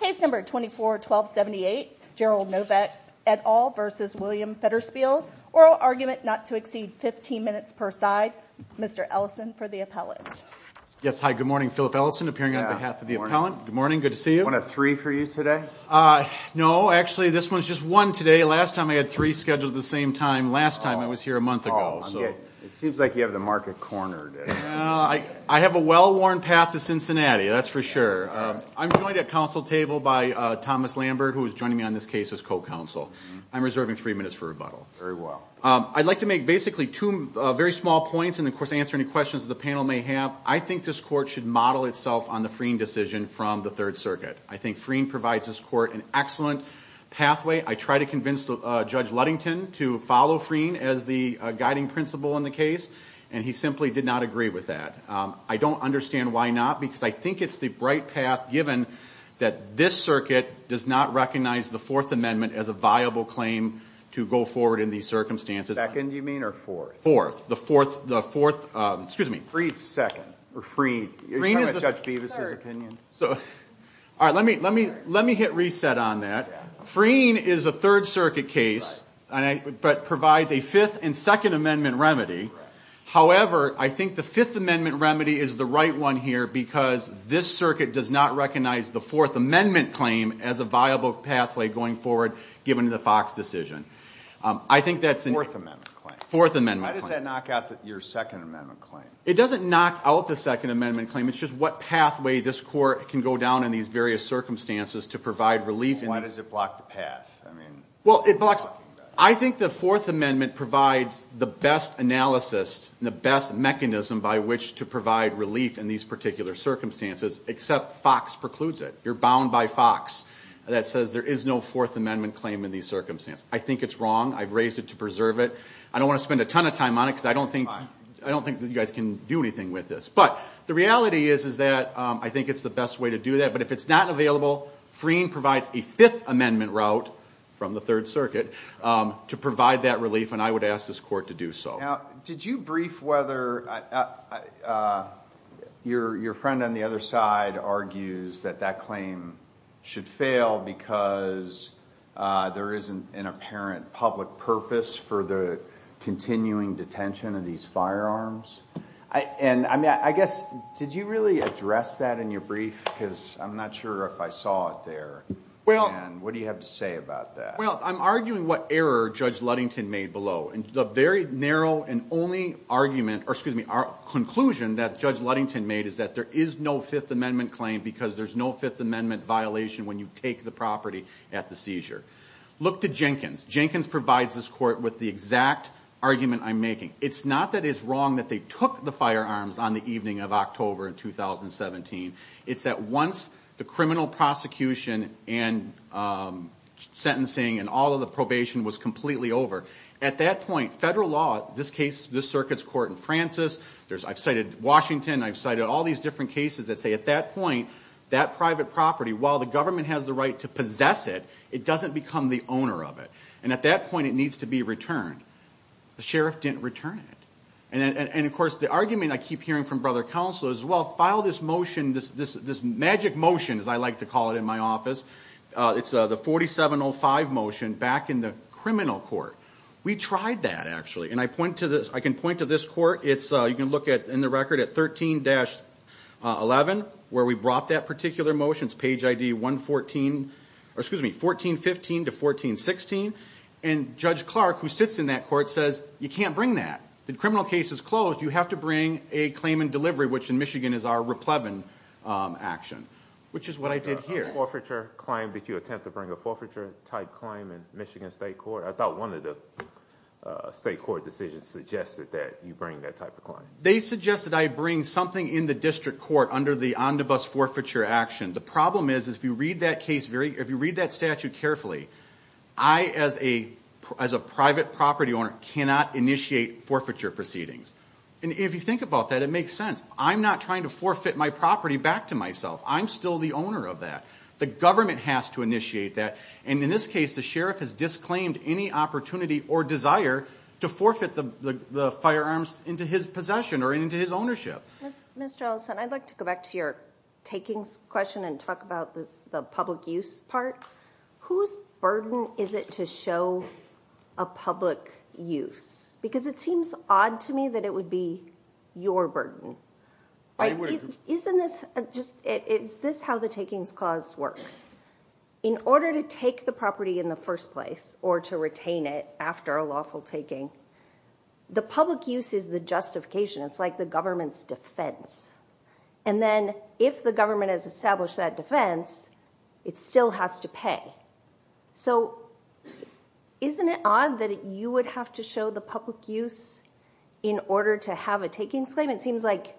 Case No. 24-1278, Gerald Novak et al. v. William Federspiel. Oral argument not to exceed 15 minutes per side. Mr. Ellison for the appellate. Yes, hi. Good morning. Philip Ellison appearing on behalf of the appellant. Good morning. Good to see you. One of three for you today? No, actually this one's just one today. Last time I had three scheduled at the same time. Last time I was here a month ago. Oh, I'm getting, it seems like you have the market cornered. No, I have a well-worn path to Cincinnati. That's for sure. I'm joined at council table by Thomas Lambert, who is joining me on this case as co-counsel. I'm reserving three minutes for rebuttal. Very well. I'd like to make basically two very small points and of course, answer any questions that the panel may have. I think this court should model itself on the Freen decision from the third circuit. I think Freen provides this court an excellent pathway. I try to convince Judge Ludington to follow Freen as the guiding principle in the case. And he simply did not agree with that. I don't understand why not, because I think it's the bright path given that this circuit does not recognize the fourth amendment as a viable claim to go forward in these circumstances. Second, you mean, or fourth? The fourth, the fourth, excuse me. Freen's second, or Freen. Are you talking about Judge Bevis' opinion? So, all right, let me, let me, let me hit reset on that. Freen is a third circuit case, but provides a fifth and second amendment remedy. However, I think the fifth amendment remedy is the right one here because this circuit does not recognize the fourth amendment claim as a viable pathway going forward, given the Fox decision. I think that's a fourth amendment, fourth amendment. Does that knock out your second amendment claim? It doesn't knock out the second amendment claim. It's just what pathway this court can go down in these various circumstances to provide relief. And why does it block the path? I mean, well, it blocks. I think the fourth amendment provides the best analysis and the best mechanism by which to provide relief in these particular circumstances, except Fox precludes it. You're bound by Fox that says there is no fourth amendment claim in these circumstances. I think it's wrong. I've raised it to preserve it. I don't want to spend a ton of time on it because I don't think, I don't think that you guys can do anything with this. But the reality is, is that I think it's the best way to do that. But if it's not available, freeing provides a fifth amendment route from the third circuit to provide that relief. And I would ask this court to do so. Now, did you brief whether your friend on the other side argues that that claim should fail because there isn't an apparent public purpose for the continuing detention of these firearms? And I mean, I guess, did you really address that in your brief? Because I'm not sure if I saw it there. Well, what do you have to say about that? Well, I'm arguing what error Judge Ludington made below. And the very narrow and only argument, or excuse me, our conclusion that Judge Ludington made is that there is no fifth amendment claim because there's no fifth amendment violation when you take the property at the seizure. Look to Jenkins. Jenkins provides this court with the exact argument I'm making. It's not that it's wrong that they took the firearms on the evening of October in 2017. It's that once the criminal prosecution and sentencing and all of the probation was completely over, at that point, federal law, this case, this circuit's court in Francis, I've cited Washington. I've cited all these different cases that say at that point, that private property, while the government has the right to possess it, it doesn't become the owner of it. And at that point, it needs to be returned. The sheriff didn't return it. And of course, the argument I keep hearing from brother counsel is, well, file this motion, this magic motion, as I like to call it in my office, it's the 4705 motion back in the criminal court. We tried that actually. And I point to this, I can point to this court. It's, you can look at in the record at 13-11, where we brought that particular motions, page ID 114, or excuse me, 1415 to 1416. And Judge Clark, who sits in that court, says, you can't bring that. The criminal case is closed. You have to bring a claim in delivery, which in Michigan is our repleban action, which is what I did here. A forfeiture claim, did you attempt to bring a forfeiture type claim in Michigan State Court? I thought one of the state court decisions suggested that you bring that type of claim. They suggested I bring something in the district court under the on-the-bus forfeiture action. The problem is, if you read that case very, if you read that statute carefully, I, as a private property owner, cannot initiate forfeiture proceedings. And if you think about that, it makes sense. I'm not trying to forfeit my property back to myself. I'm still the owner of that. The government has to initiate that. And in this case, the sheriff has disclaimed any opportunity or desire to forfeit the firearms into his possession or into his ownership. Mr. Ellison, I'd like to go back to your takings question and talk about this, the public use part. Whose burden is it to show a public use? Because it seems odd to me that it would be your burden. Isn't this just, is this how the takings clause works? In order to take the property in the first place or to retain it after a lawful taking, the public use is the justification. It's like the government's defense. And then if the government has established that defense, it still has to pay. So isn't it odd that you would have to show the public use in order to have a takings claim? It seems like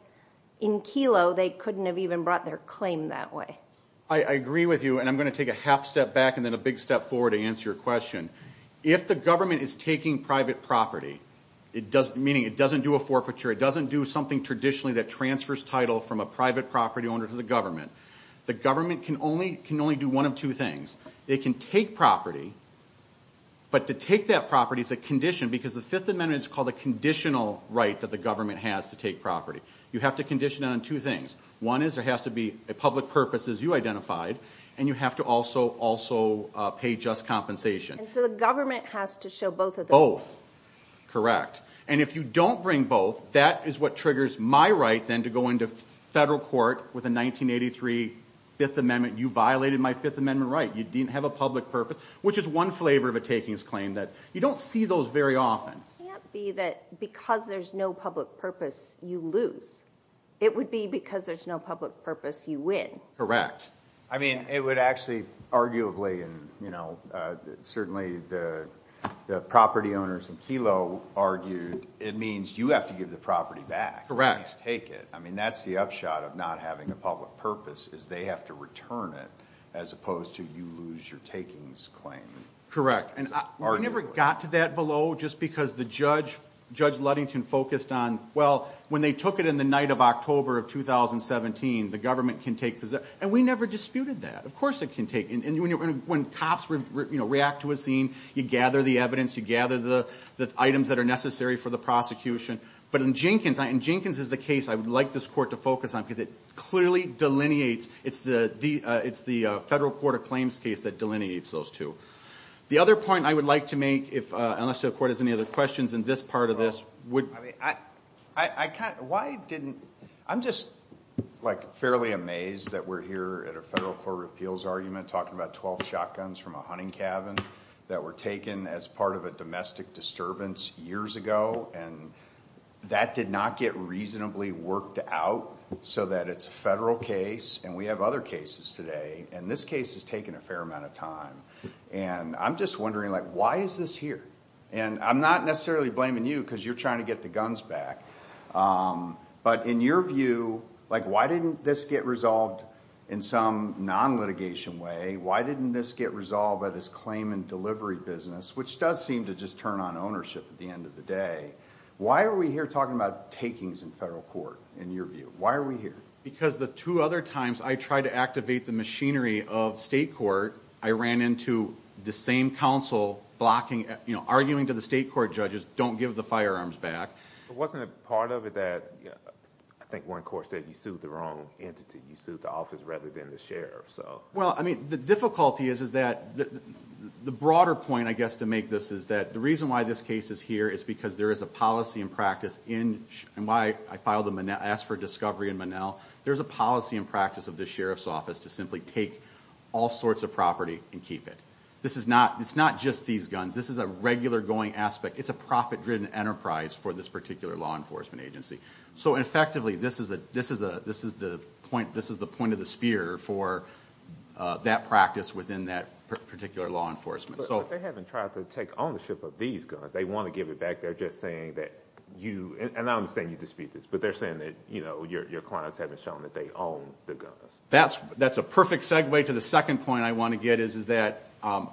in Kelo, they couldn't have even brought their claim that way. I agree with you. And I'm going to take a half step back and then a big step forward to answer your question. If the government is taking private property, it does, meaning it doesn't do a forfeiture. It doesn't do something traditionally that transfers title from a private property owner to the government. The government can only do one of two things. They can take property, but to take that property is a condition because the Fifth Amendment is called a conditional right that the government has to take property. You have to condition it on two things. One is there has to be a public purpose, as you identified, and you have to also pay just compensation. And so the government has to show both of those? Both. Correct. And if you don't bring both, that is what triggers my right then to go into federal court with a 1983 Fifth Amendment. You violated my Fifth Amendment right. You didn't have a public purpose, which is one flavor of a takings claim that you don't see those very often. It can't be that because there's no public purpose, you lose. It would be because there's no public purpose, you win. Correct. I mean, it would actually, arguably, and certainly the property owners in Kelo argued, it means you have to give the property back. Correct. You have to take it. I mean, that's the upshot of not having a public purpose is they have to return it as opposed to you lose your takings claim. Correct. And we never got to that below just because the judge, Judge Ludington, focused on, well, when they took it in the night of October of 2017, the government can take possession. And we never disputed that. Of course it can take, and when cops react to a scene, you gather the evidence, you gather the items that are necessary for the prosecution. But in Jenkins, and Jenkins is the case I would like this court to focus on because it clearly delineates. It's the federal court of claims case that delineates those two. The other point I would like to make, unless the court has any other questions in this part of this, would. I mean, I kind of, why didn't, I'm just like fairly amazed that we're here at a federal court of appeals argument talking about 12 shotguns from a hunting cabin that were taken as part of a domestic disturbance years ago. And that did not get reasonably worked out so that it's a federal case. And we have other cases today, and this case has taken a fair amount of time. And I'm just wondering, like, why is this here? And I'm not necessarily blaming you because you're trying to get the guns back. But in your view, like, why didn't this get resolved in some non-litigation way? Why didn't this get resolved by this claim and delivery business, which does seem to just turn on ownership at the end of the day? Why are we here talking about takings in federal court, in your view? Why are we here? Because the two other times I tried to activate the machinery of state court, I ran into the same council blocking, you know, arguing to the state court judges, don't give the firearms back. But wasn't a part of it that, I think one court said you sued the wrong entity. You sued the office rather than the sheriff. Well, I mean, the difficulty is, is that the broader point, I guess, to make this is that the reason why this case is here is because there is a policy and practice in, and why I filed the, I asked for discovery in Monell. There's a policy and practice of the sheriff's office to simply take all sorts of property and keep it. This is not, it's not just these guns. This is a regular going aspect. It's a profit driven enterprise for this particular law enforcement agency. So effectively, this is a, this is a, this is the point, this is the point of the spear for that practice within that particular law enforcement. So they haven't tried to take ownership of these guns. They want to give it back. They're just saying that you, and I understand you dispute this, but they're saying that, you know, your clients haven't shown that they own the guns. That's, that's a perfect segue to the second point I want to get is, is that, um,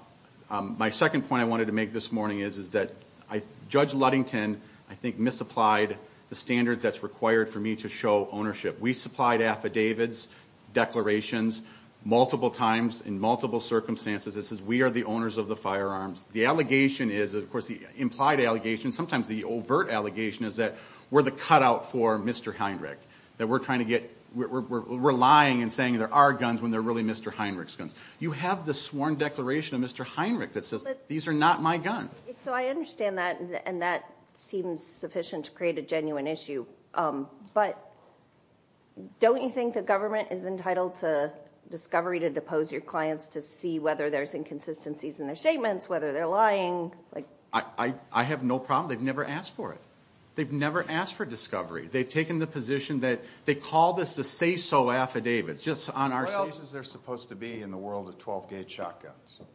um, my second point. I wanted to make this morning is, is that I judge Ludington, I think misapplied the standards that's required for me to show ownership. We supplied affidavits, declarations multiple times in multiple circumstances. This is, we are the owners of the firearms. The allegation is of course the implied allegation. Sometimes the overt allegation is that we're the cutout for Mr. Heinrich, that we're trying to get, we're relying and saying there are guns when they're really Mr. Heinrich's guns. You have the sworn declaration of Mr. Heinrich that says these are not my gun. So I understand that and that seems sufficient to create a genuine issue. Um, but don't you think the government is entitled to discovery to depose your clients to see whether there's inconsistencies in their statements, whether they're lying? Like I, I, I have no problem. They've never asked for it. They've never asked for discovery. They've taken the position that they call this the say so affidavits just on our say. This is, they're supposed to be in the world of 12 gauge shotguns.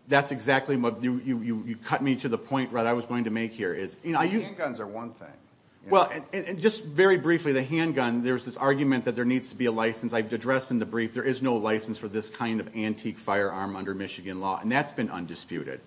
That's exactly what you, you, you, you cut me to the point, right? I was going to make here is, you know, I use guns are one thing. Well, and just very briefly, the handgun, there's this argument that there needs to be a license I've addressed in the brief. There is no license for this kind of antique firearm under Michigan law. And that's been undisputed.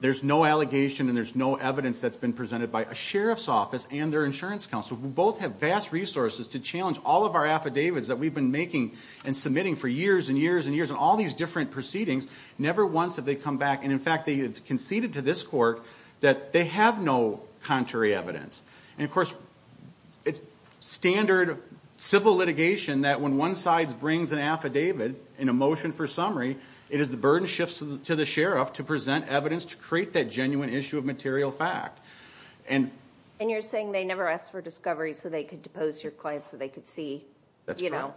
There's no allegation and there's no evidence that's been presented by a Sheriff's office and their insurance council. We both have vast resources to challenge all of our affidavits that we've been making and submitting for years and years and years and all these different proceedings. Never once have they come back. And in fact, they conceded to this court that they have no contrary evidence. And of course it's standard civil litigation that when one side brings an affidavit in a motion for summary, it is the burden shifts to the Sheriff to present evidence, to create that genuine issue of material fact. And, and you're saying they never asked for discovery so they could depose your client so they could see, you know,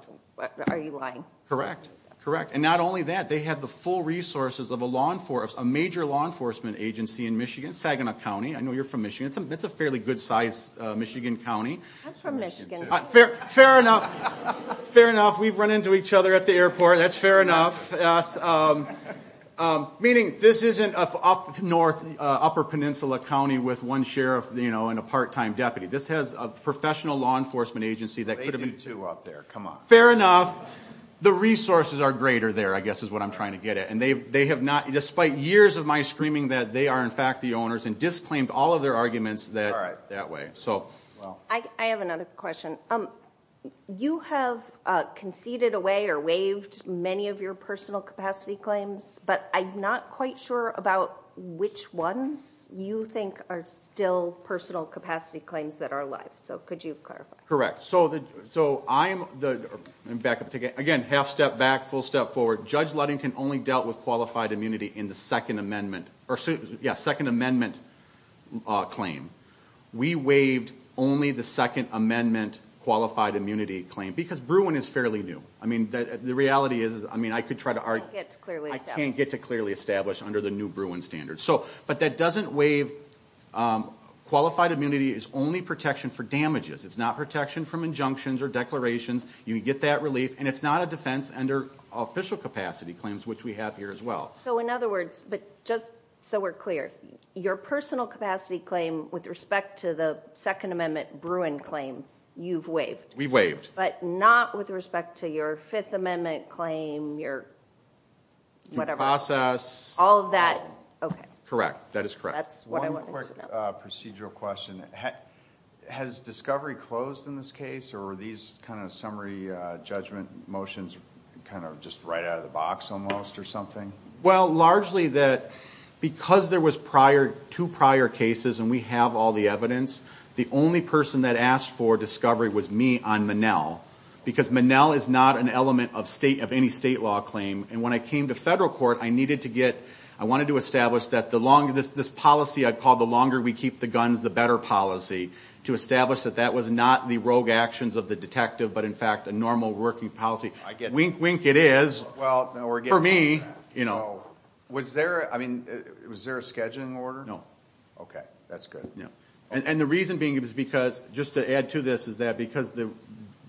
are you lying? Correct. Correct. And not only that, they had the full resources of a law enforcement, a major law enforcement agency in Michigan, Saginaw County. I know you're from Michigan. It's a, it's a fairly good size, Michigan County. I'm from Michigan. Fair, fair enough. Fair enough. We've run into each other at the airport. That's fair enough. Meaning this isn't an up north, upper peninsula County with one Sheriff, you know, and a part-time deputy. This has a professional law enforcement agency that could have been. They do too up there. Come on. Fair enough. The resources are greater there, I guess is what I'm trying to get at. And they, they have not, despite years of my screaming that they are in fact the owners and disclaimed all of their arguments that way. I, I have another question. Um, you have conceded away or waived many of your personal capacity claims, but I'm not quite sure about which ones you think are still personal capacity claims that are alive. So could you clarify? So the, so I'm the backup ticket again, half step back, full step forward. Judge Ludington only dealt with qualified immunity in the second amendment or yeah. Second amendment claim. We waived only the second amendment qualified immunity claim because Bruin is fairly new. I mean, the reality is, I mean, I could try to argue, I can't get to clearly establish under the new Bruin standard. So, but that doesn't waive qualified immunity is only protection for damages. It's not protection from injunctions or declarations. You can get that relief and it's not a defense under official capacity claims, which we have here as well. So in other words, but just so we're clear, your personal capacity claim with respect to the second amendment Bruin claim, you've waived, but not with respect to your fifth amendment claim. You're whatever process, all of that. Okay, correct. That is correct. That's what procedural question. Has discovery closed in this case or are these kind of summary judgment motions kind of just right out of the box almost or something? Well, largely that because there was prior to prior cases and we have all the evidence, the only person that asked for discovery was me on Monell because Monell is not an element of state of any state law claim. And when I came to federal court, I needed to get, I wanted to establish that the longer this, this policy I'd call the longer we keep the guns, the better policy to establish that that was not the rogue actions of the detective, but in fact, a normal working policy. I get wink, wink. It is for me, you know, was there, I mean, was there a scheduling order? No. Okay. That's good. Yeah. And the reason being is because just to add to this, is that because the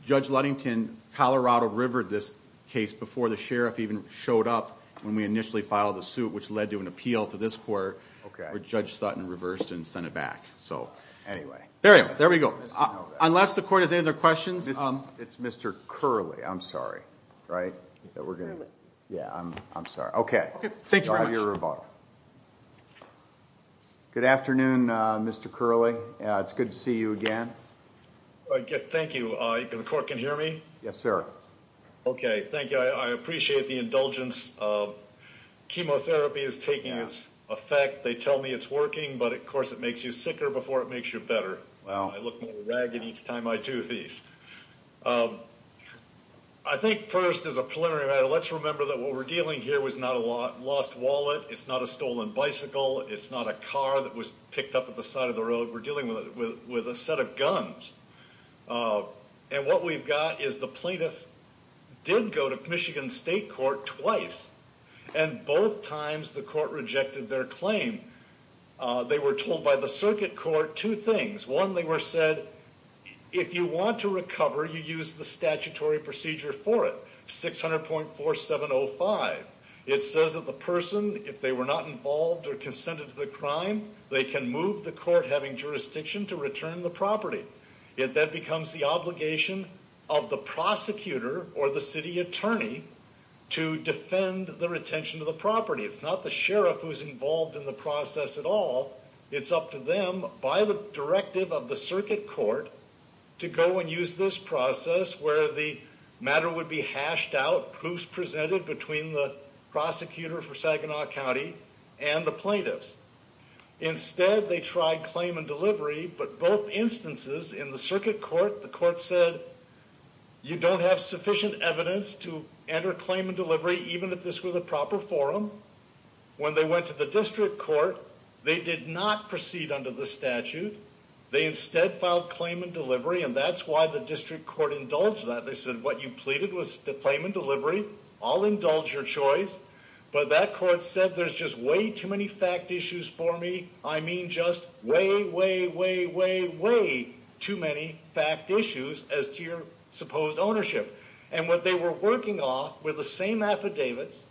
judge Ludington, Colorado River, this case before the sheriff even showed up when we initially filed the suit, which led to an appeal to this court, where judge Sutton reversed and sent it back. So anyway, there we go. Unless the court has any other questions. It's Mr. Curly. I'm sorry. Right. That we're going to, yeah, I'm, I'm sorry. Okay. Thanks for your rebuttal. Good afternoon, Mr. Curly. It's good to see you again. I get, thank you. I can, the court can hear me. Yes, sir. Okay. Thank you. I appreciate the indulgence of chemotherapy is taking its effect. They tell me it's working, but of course it makes you sicker before it makes you better. Wow. I look more ragged each time I do these. Um, I think first as a preliminary matter, let's remember that what we're dealing here was not a lot lost wallet. It's not a stolen bicycle. It's not a car that was picked up at the side of the road. We're dealing with, with, with a set of guns. Uh, and what we've got is the plaintiff did go to Michigan state court twice and both times the court rejected their claim. Uh, they were told by the circuit court, two things. One, they were said, if you want to recover, you use the statutory procedure for it. 600.4705. It says that the person, if they were not involved or consented to the crime, they can move the court having jurisdiction to return the property. It then becomes the obligation of the prosecutor or the city attorney to defend the retention of the property. It's not the sheriff who's involved in the process at all. It's up to them by the directive of the circuit court to go and use this process where the matter would be hashed out. Proofs presented between the prosecutor for Saginaw County and the plaintiffs. Instead, they tried claim and delivery, but both instances in the circuit court, the court said you don't have sufficient evidence to enter claim and delivery. Even if this were the proper forum, when they went to the district court, they did not proceed under the statute. They instead filed claim and delivery. And that's why the district court indulged that they said, what you pleaded was to claim and delivery. I'll indulge your choice. But that court said, there's just way too many fact issues for me. I mean, just way, way, way, way, way too many fact issues as to your supposed ownership. And what they were working off with the same affidavits,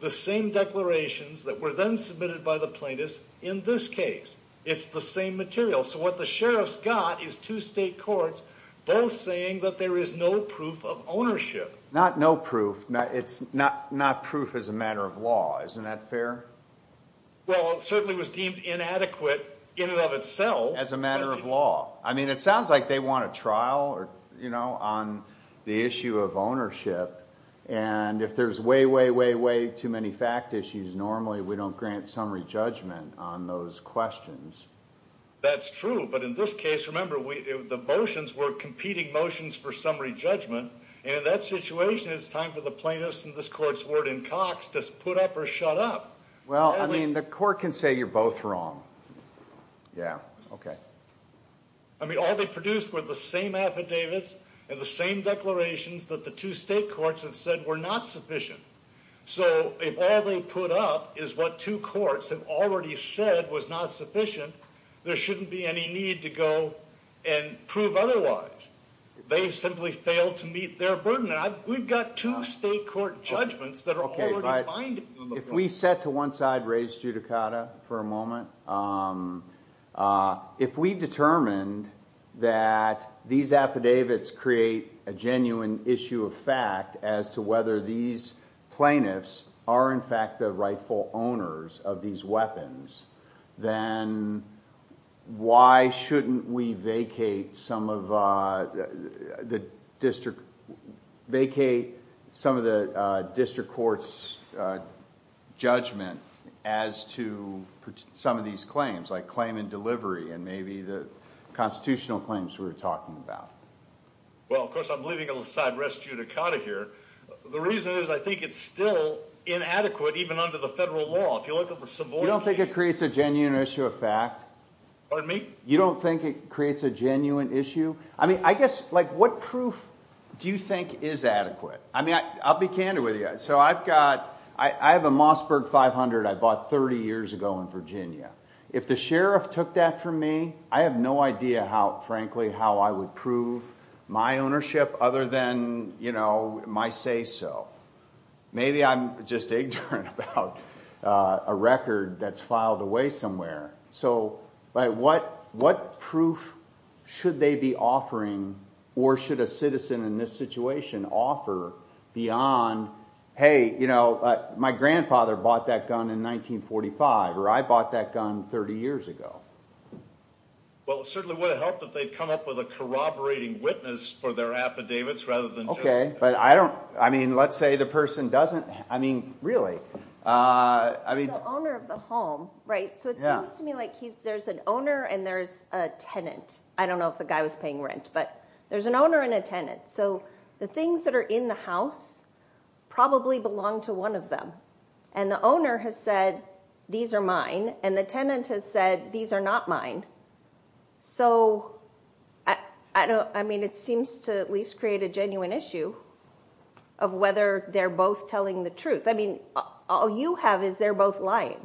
the same declarations that were then submitted by the plaintiffs in this case, it's the same material. So what the sheriff's got is two state courts, both saying that there is no proof of ownership, not no proof, not it's not, not proof as a matter of law. Isn't that fair? Well, it certainly was deemed inadequate in and of itself as a matter of law. I mean, it sounds like they want a trial or, you know, on the issue of ownership. And if there's way, way, way, way too many fact issues, normally we don't grant summary judgment on those questions. That's true. But in this case, remember we, the motions were competing motions for summary judgment. And in that situation, it's time for the plaintiffs and this court's warden Cox to put up or shut up. Well, I mean, the court can say you're both wrong. Yeah. Okay. I mean, all they produced were the same affidavits and the same declarations that the two state courts had said were not sufficient. So if all they put up is what two courts have already said was not sufficient, there shouldn't be any need to go and prove otherwise. They simply failed to meet their burden. We've got two state court judgments that are already binding on the court. If we set to one side, raise judicata for a moment. If we determined that these affidavits create a genuine issue of fact as to whether these plaintiffs are in fact the rightful owners of these weapons, then why shouldn't we vacate some of the district, vacate some of the district court's judgment as to some of these claims that have already been made? These claims like claim and delivery and maybe the constitutional claims we were talking about. Well, of course, I'm leaving it on the side, raise judicata here. The reason is I think it's still inadequate, even under the federal law. If you look at the Savoy case- You don't think it creates a genuine issue of fact? Pardon me? You don't think it creates a genuine issue? I mean, I guess, like, what proof do you think is adequate? I mean, I'll be candid with you. So I've got, I have a Mossberg 500 I bought 30 years ago in Virginia. If the sheriff took that from me, I have no idea how, frankly, how I would prove my ownership other than, you know, my say so. Maybe I'm just ignorant about a record that's filed away somewhere. So, but what, what proof should they be offering or should a citizen in this situation offer beyond, hey, you know, my grandfather bought that gun in 1945 or I bought that gun 30 years ago? Well, it certainly would have helped if they'd come up with a corroborating witness for their affidavits rather than just- Okay, but I don't, I mean, let's say the person doesn't, I mean, really? The owner of the home, right? So it seems to me like there's an owner and there's a tenant. I don't know if the guy was paying rent, but there's an owner and a tenant. So the things that are in the house probably belong to one of them. And the owner has said, these are mine. And the tenant has said, these are not mine. So I don't, I mean, it seems to at least create a genuine issue of whether they're both telling the truth. I mean, all you have is they're both lying.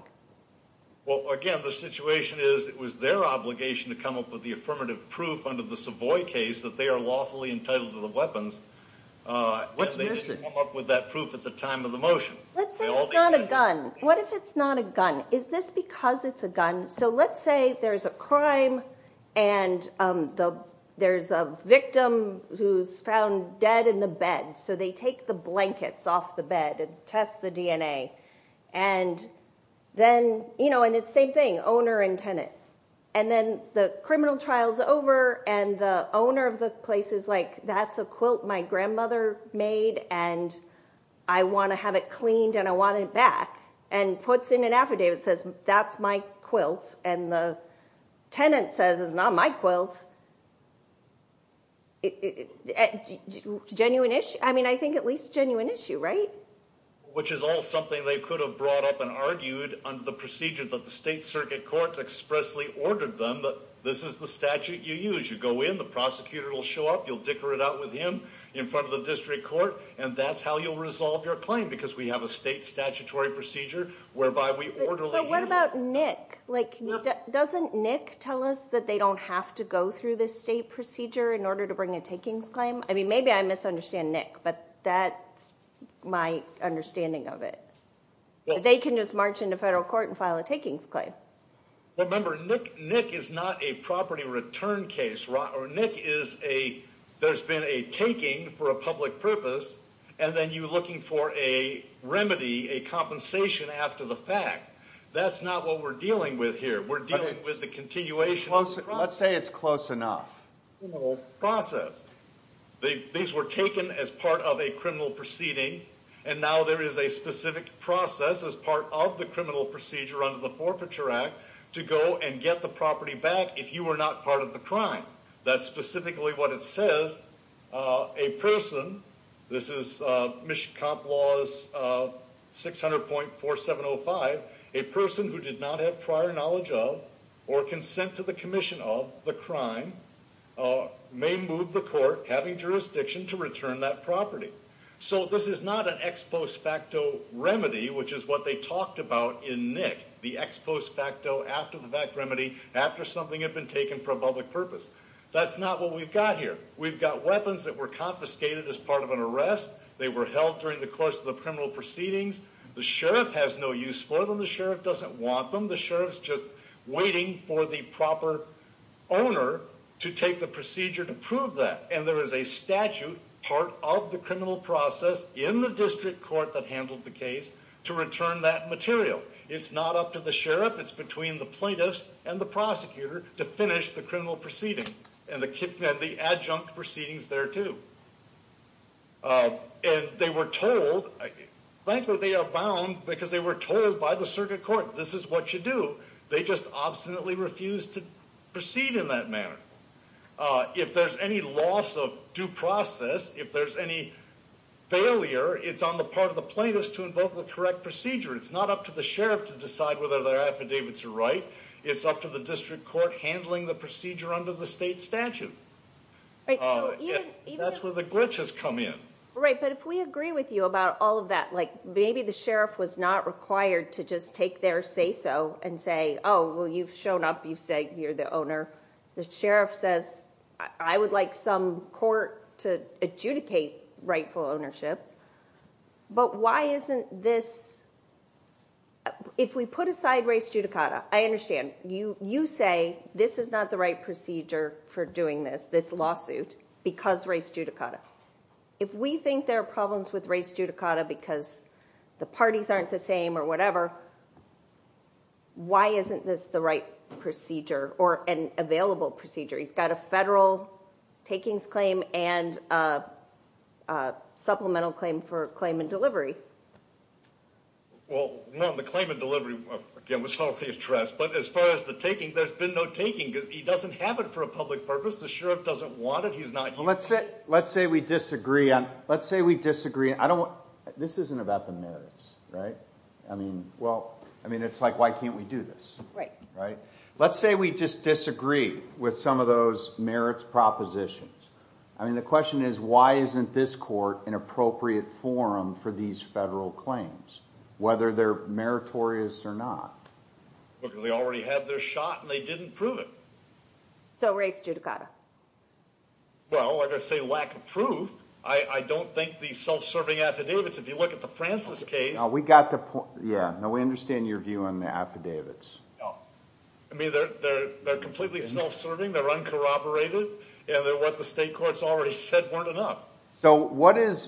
Well, again, the situation is it was their obligation to come up with the affirmative proof under the Savoy case that they are lawfully entitled to the weapons. Uh, and they didn't come up with that proof at the time of the motion. Let's say it's not a gun. What if it's not a gun? Is this because it's a gun? So let's say there's a crime and, um, the, there's a victim who's found dead in the bed. So they take the blankets off the bed and test the DNA and then, you know, and it's same thing, owner and tenant. And then the criminal trial's over and the owner of the place is like, that's a quilt my grandmother made and I want to have it cleaned and I want it back and puts in an affidavit. It says that's my quilts and the tenant says it's not my quilts. Genuine issue. I mean, I think at least a genuine issue, right? Which is all something they could have brought up and argued under the procedure that the state circuit courts expressly ordered them. But this is the statute you use. You go in, the prosecutor will show up. You'll dicker it out with him in front of the district court, and that's how you'll resolve your claim. Because we have a state statutory procedure whereby we orderly. What about Nick? Like, doesn't Nick tell us that they don't have to go through this state procedure in order to bring a takings claim? I mean, maybe I misunderstand Nick, but that's my understanding of it. They can just march into federal court and file a takings claim. Remember, Nick, Nick is not a property return case, right? Nick is a, there's been a taking for a public purpose, and then you're looking for a remedy, a compensation after the fact. That's not what we're dealing with here. We're dealing with the continuation of the process. Let's say it's close enough. Criminal process. These were taken as part of a criminal proceeding, and now there is a specific process as part of the criminal procedure under the Forfeiture Act to go and get the property back if you were not part of the crime. That's specifically what it says, a person, this is Mishkap Laws 600.4705, a person who did not have prior knowledge of or consent to the commission of the crime may move the court having jurisdiction to return that property. So this is not an ex post facto remedy, which is what they talked about in Nick, the ex post facto, after the fact remedy, after something had been taken for a public purpose. That's not what we've got here. We've got weapons that were confiscated as part of an arrest. They were held during the course of the criminal proceedings. The sheriff has no use for them. The sheriff doesn't want them. The sheriff's just waiting for the proper owner to take the procedure to prove that. And there is a statute part of the criminal process in the district court that handled the case to return that material. It's not up to the sheriff. It's between the plaintiffs and the prosecutor to finish the criminal proceeding. And the adjunct proceedings there too. And they were told, frankly, they are bound because they were told by the circuit court, this is what you do. They just obstinately refused to proceed in that manner. If there's any loss of due process, if there's any failure, it's on the part of the plaintiffs to invoke the correct procedure. It's not up to the sheriff to decide whether their affidavits are right. It's up to the district court handling the procedure under the state statute. That's where the glitches come in. Right. But if we agree with you about all of that, like maybe the sheriff was not required to just take their say so and say, oh, well, you've shown up. You say you're the owner. The sheriff says I would like some court to adjudicate rightful ownership. But why isn't this? If we put aside race judicata, I understand you, you say this is not the right procedure for doing this, this lawsuit because race judicata. If we think there are problems with race judicata because the parties aren't the same or whatever. Why isn't this the right procedure or an available procedure? He's got a federal takings claim and a supplemental claim for claim and delivery. Well, the claim and delivery was already addressed, but as far as the taking, there's been no taking. He doesn't have it for a public purpose. The sheriff doesn't want it. He's not let's say let's say we disagree. Let's say we disagree. I don't. This isn't about the merits. Right. I mean, well, I mean, it's like, why can't we do this? Right. Right. Let's say we just disagree with some of those merits propositions. I mean, the question is, why isn't this court an appropriate forum for these federal claims? Whether they're meritorious or not, because they already have their shot and they didn't prove it. So race judicata. Well, like I say, lack of proof. I don't think the self-serving affidavits, if you look at the Francis case, we got the point. Yeah. No, we understand your view on the affidavits. I mean, they're they're they're completely self-serving. They're uncorroborated. And they're what the state courts already said weren't enough. So what is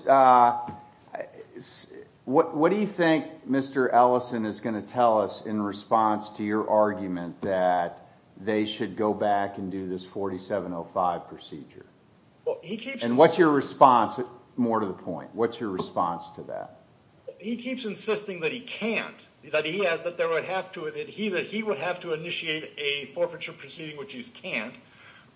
what do you think Mr. Ellison is going to tell us in response to your argument that they should go back and do this 4705 procedure? Well, he keeps. And what's your response? More to the point. What's your response to that? He keeps insisting that he can't, that he has, that there would have to, that he that he would have to initiate a forfeiture proceeding, which he can't,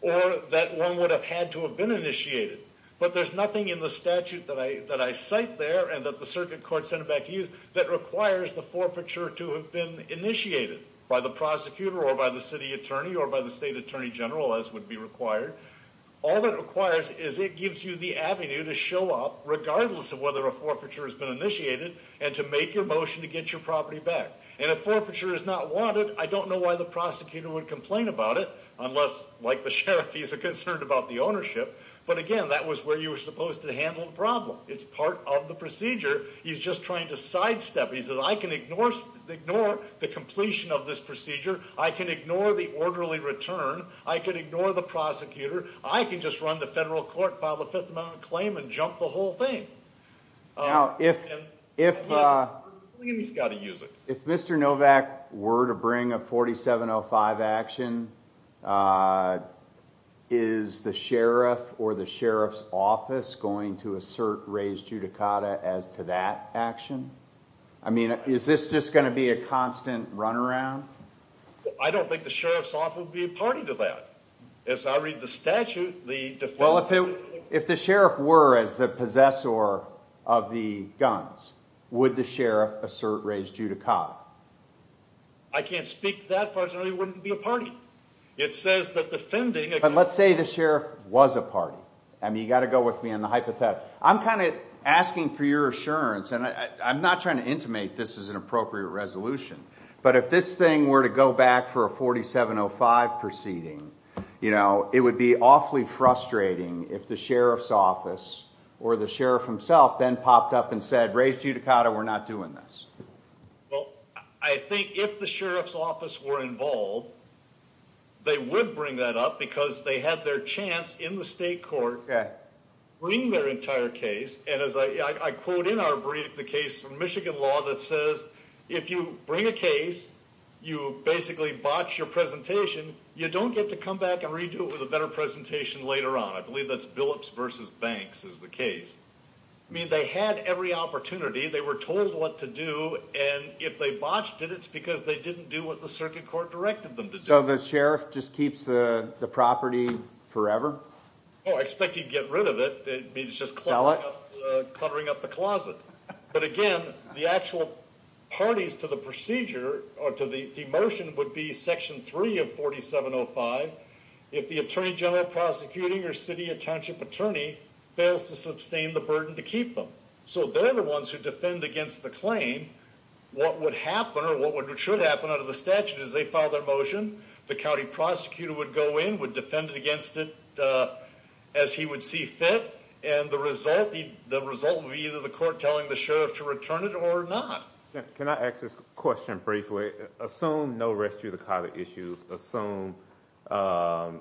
or that one would have had to have been initiated. But there's nothing in the statute that I that I cite there and that the circuit court sent back to you that requires the forfeiture to have been initiated by the prosecutor or by the city attorney or by the state attorney general, as would be required. All that requires is it gives you the avenue to show up regardless of whether a forfeiture has been initiated and to make your motion to get your property back. And if forfeiture is not wanted, I don't know why the prosecutor would complain about it unless, like the sheriff, he's concerned about the ownership. But again, that was where you were supposed to handle the problem. It's part of the procedure. He's just trying to sidestep. He says, I can ignore, ignore the completion of this procedure. I can ignore the orderly return. I could ignore the prosecutor. I can just run the federal court, file a Fifth Amendment claim and jump the whole thing. Now, if if he's got to use it, if Mr. Novak were to bring a 4705 action, is the sheriff or the sheriff's office going to assert raised judicata as to that action? I mean, is this just going to be a constant runaround? I don't think the sheriff's office would be a party to that. As I read the statute, the defense... Well, if the sheriff were as the possessor of the guns, would the sheriff assert raised judicata? I can't speak to that, Fudge, it wouldn't be a party. It says that defending... But let's say the sheriff was a party. I mean, you got to go with me on the hypothesis. I'm kind of asking for your assurance and I'm not trying to intimate this as an appropriate resolution. But if this thing were to go back for a 4705 proceeding, you know, it would be awfully frustrating if the sheriff's office or the sheriff himself then popped up and said, raised judicata, we're not doing this. Well, I think if the sheriff's office were involved, they would bring that up because they had their chance in the state court to bring their entire case. And as I quote in our brief, the case from Michigan law that says, if you bring a case, you basically botch your presentation. You don't get to come back and redo it with a better presentation later on. I believe that's Billups versus Banks is the case. I mean, they had every opportunity. They were told what to do. And if they botched it, it's because they didn't do what the circuit court directed them to do. So the sheriff just keeps the property forever? Oh, I expect he'd get rid of it. It's just cluttering up the closet. But again, the actual parties to the procedure or to the motion would be section 3 of 4705. If the attorney general prosecuting or city or township attorney fails to sustain the burden to keep them. So they're the ones who defend against the claim. What would happen or what would should happen under the statute is they file their motion. The county prosecutor would go in, would defend against it as he would see fit. And the result, the result would be either the court telling the sheriff to return it or not. Can I ask a question briefly? Assume no rescue, the kind of issues assume that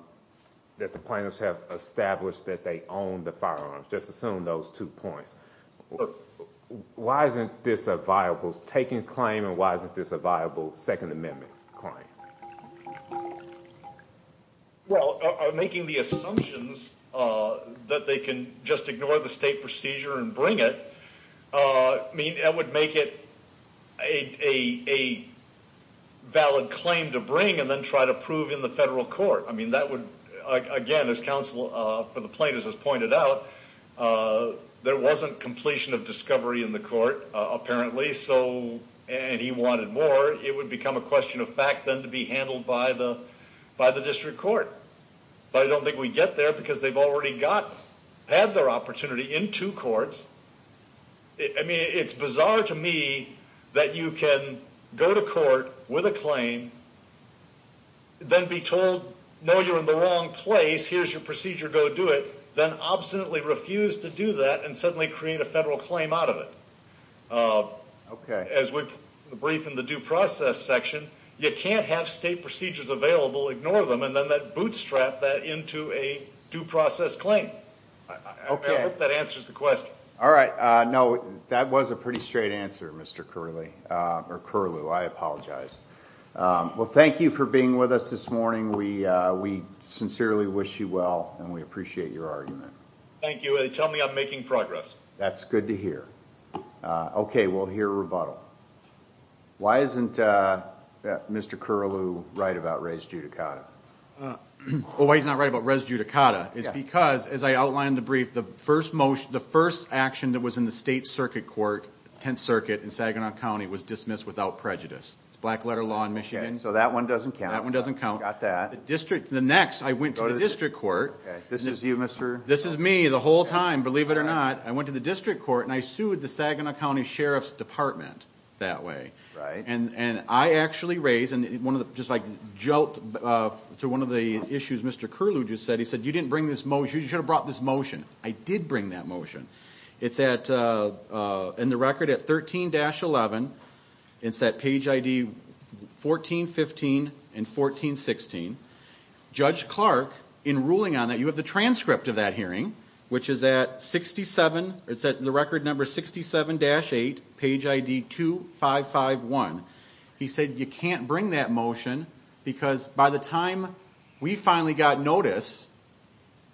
the plaintiffs have established that they own the firearms. Just assume those two points. Why isn't this a viable taking claim and why isn't this a viable Second Amendment claim? Well, making the assumptions that they can just ignore the state procedure and bring it, I mean, that would make it a valid claim to bring and then try to prove in the federal court. I mean, that would, again, as counsel for the plaintiffs has pointed out, there wasn't completion of discovery in the court, apparently. So, and he wanted more, it would become a question of fact then to be handled by the, by the district court. But I don't think we get there because they've already got, had their opportunity in two courts. I mean, it's bizarre to me that you can go to court with a claim, then be told, no, you're in the wrong place. Here's your procedure. Go do it. Then obstinately refuse to do that and suddenly create a federal claim out of it. As we've briefed in the due process section, you can't have state procedures available, ignore them, and then that bootstrap that into a due process claim. I hope that answers the question. All right. No, that was a pretty straight answer, Mr. Curley, or Curlew. I apologize. Well, thank you for being with us this morning. We, we sincerely wish you well, and we appreciate your argument. Thank you. And tell me I'm making progress. That's good to hear. Okay. We'll hear a rebuttal. Why isn't Mr. Curlew right about res judicata? Well, why he's not right about res judicata is because, as I outlined in the brief, the first motion, the first action that was in the state circuit court, 10th circuit in Saginaw County was dismissed without prejudice. It's black letter law in Michigan. So that one doesn't count. That one doesn't count. Got that. The district, the next, I went to the district court. This is you, Mr. This is me the whole time, believe it or not. I went to the district court and I sued the Saginaw County Sheriff's department that way. And, and I actually raised, and one of the, just like jolt to one of the issues, Mr. Curlew just said, he said, you didn't bring this motion. You should have brought this motion. I did bring that motion. It's at, in the record at 13-11, it's that page ID 1415 and 1416. Judge Clark in ruling on that, you have the transcript of that hearing, which is at 67. It's at the record number 67-8 page ID 2551. He said, you can't bring that motion because by the time we finally got notice,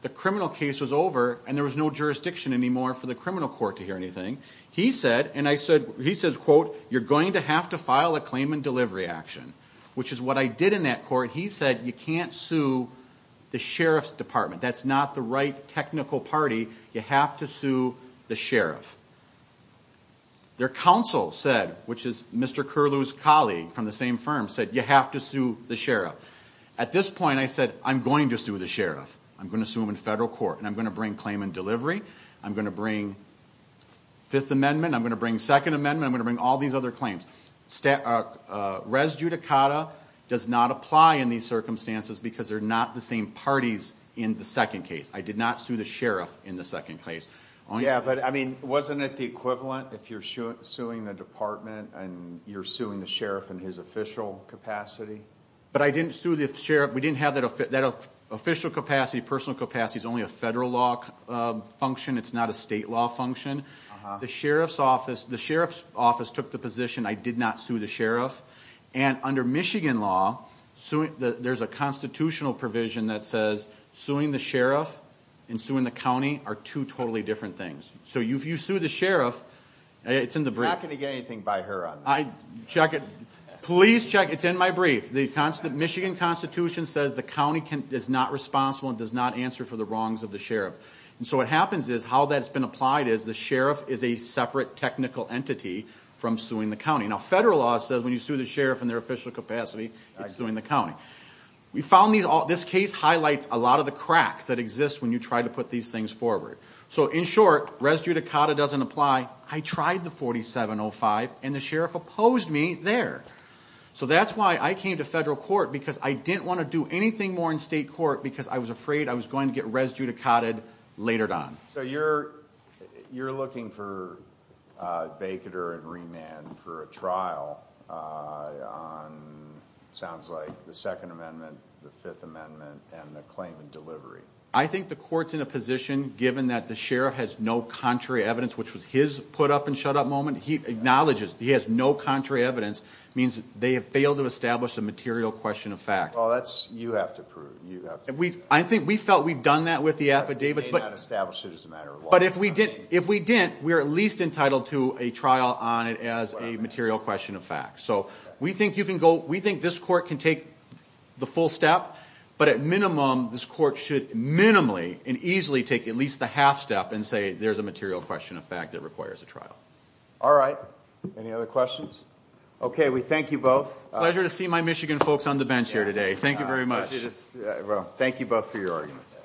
the criminal case was over and there was no jurisdiction anymore for the criminal court to hear anything. He said, and I said, he says, quote, you're going to have to file a claim and delivery action, which is what I did in that court. He said, you can't sue the Sheriff's department. That's not the right technical party. You have to sue the Sheriff. Their counsel said, which is Mr. Curlew's colleague from the same firm said, you have to sue the Sheriff. At this point, I said, I'm going to sue the Sheriff. I'm going to sue him in federal court and I'm going to bring claim and delivery. I'm going to bring fifth amendment. I'm going to bring second amendment. I'm going to bring all these other claims. Res judicata does not apply in these circumstances because they're not the same parties in the second case. I did not sue the Sheriff in the second case. Yeah, but I mean, wasn't it the equivalent if you're suing the department and you're suing the Sheriff and his official capacity? But I didn't sue the Sheriff. We didn't have that official capacity. Personal capacity is only a federal law function. It's not a state law function. The Sheriff's office, the Sheriff's office took the position. I did not sue the Sheriff. And under Michigan law, there's a constitutional provision that says suing the Sheriff and suing the county are two totally different things. So if you sue the Sheriff, it's in the brief. You're not going to get anything by her on that. I check it. Please check. It's in my brief. The Michigan constitution says the county is not responsible and does not answer for the wrongs of the Sheriff. And so what happens is how that's been applied is the Sheriff is a separate technical entity from suing the county. Now, federal law says when you sue the Sheriff in their official capacity, it's suing the county. We found these all this case highlights a lot of the cracks that exist when you try to put these things forward. So in short, res judicata doesn't apply. I tried the 4705 and the Sheriff opposed me there. So that's why I came to federal court, because I didn't want to do anything more in state court, because I was afraid I was going to get res judicata later on. So you're you're looking for a baker and remand for a trial on sounds like the Second Amendment, the Fifth Amendment and the claimant delivery. I think the court's in a position, given that the Sheriff has no contrary evidence, which was his put up and shut up moment. He acknowledges he has no contrary evidence, means they have failed to establish a material question of fact. Oh, that's you have to prove you have. And we I think we felt we've done that with the affidavits, but establish it as a matter of law. But if we did, if we didn't, we are at least entitled to a trial on it as a material question of fact. So we think you can go. We think this court can take the full step. But at minimum, this court should minimally and easily take at least the half step and say there's a material question of fact that requires a trial. All right. Any other questions? OK, we thank you both. Pleasure to see my Michigan folks on the bench here today. Thank you very much. Thank you both for your arguments.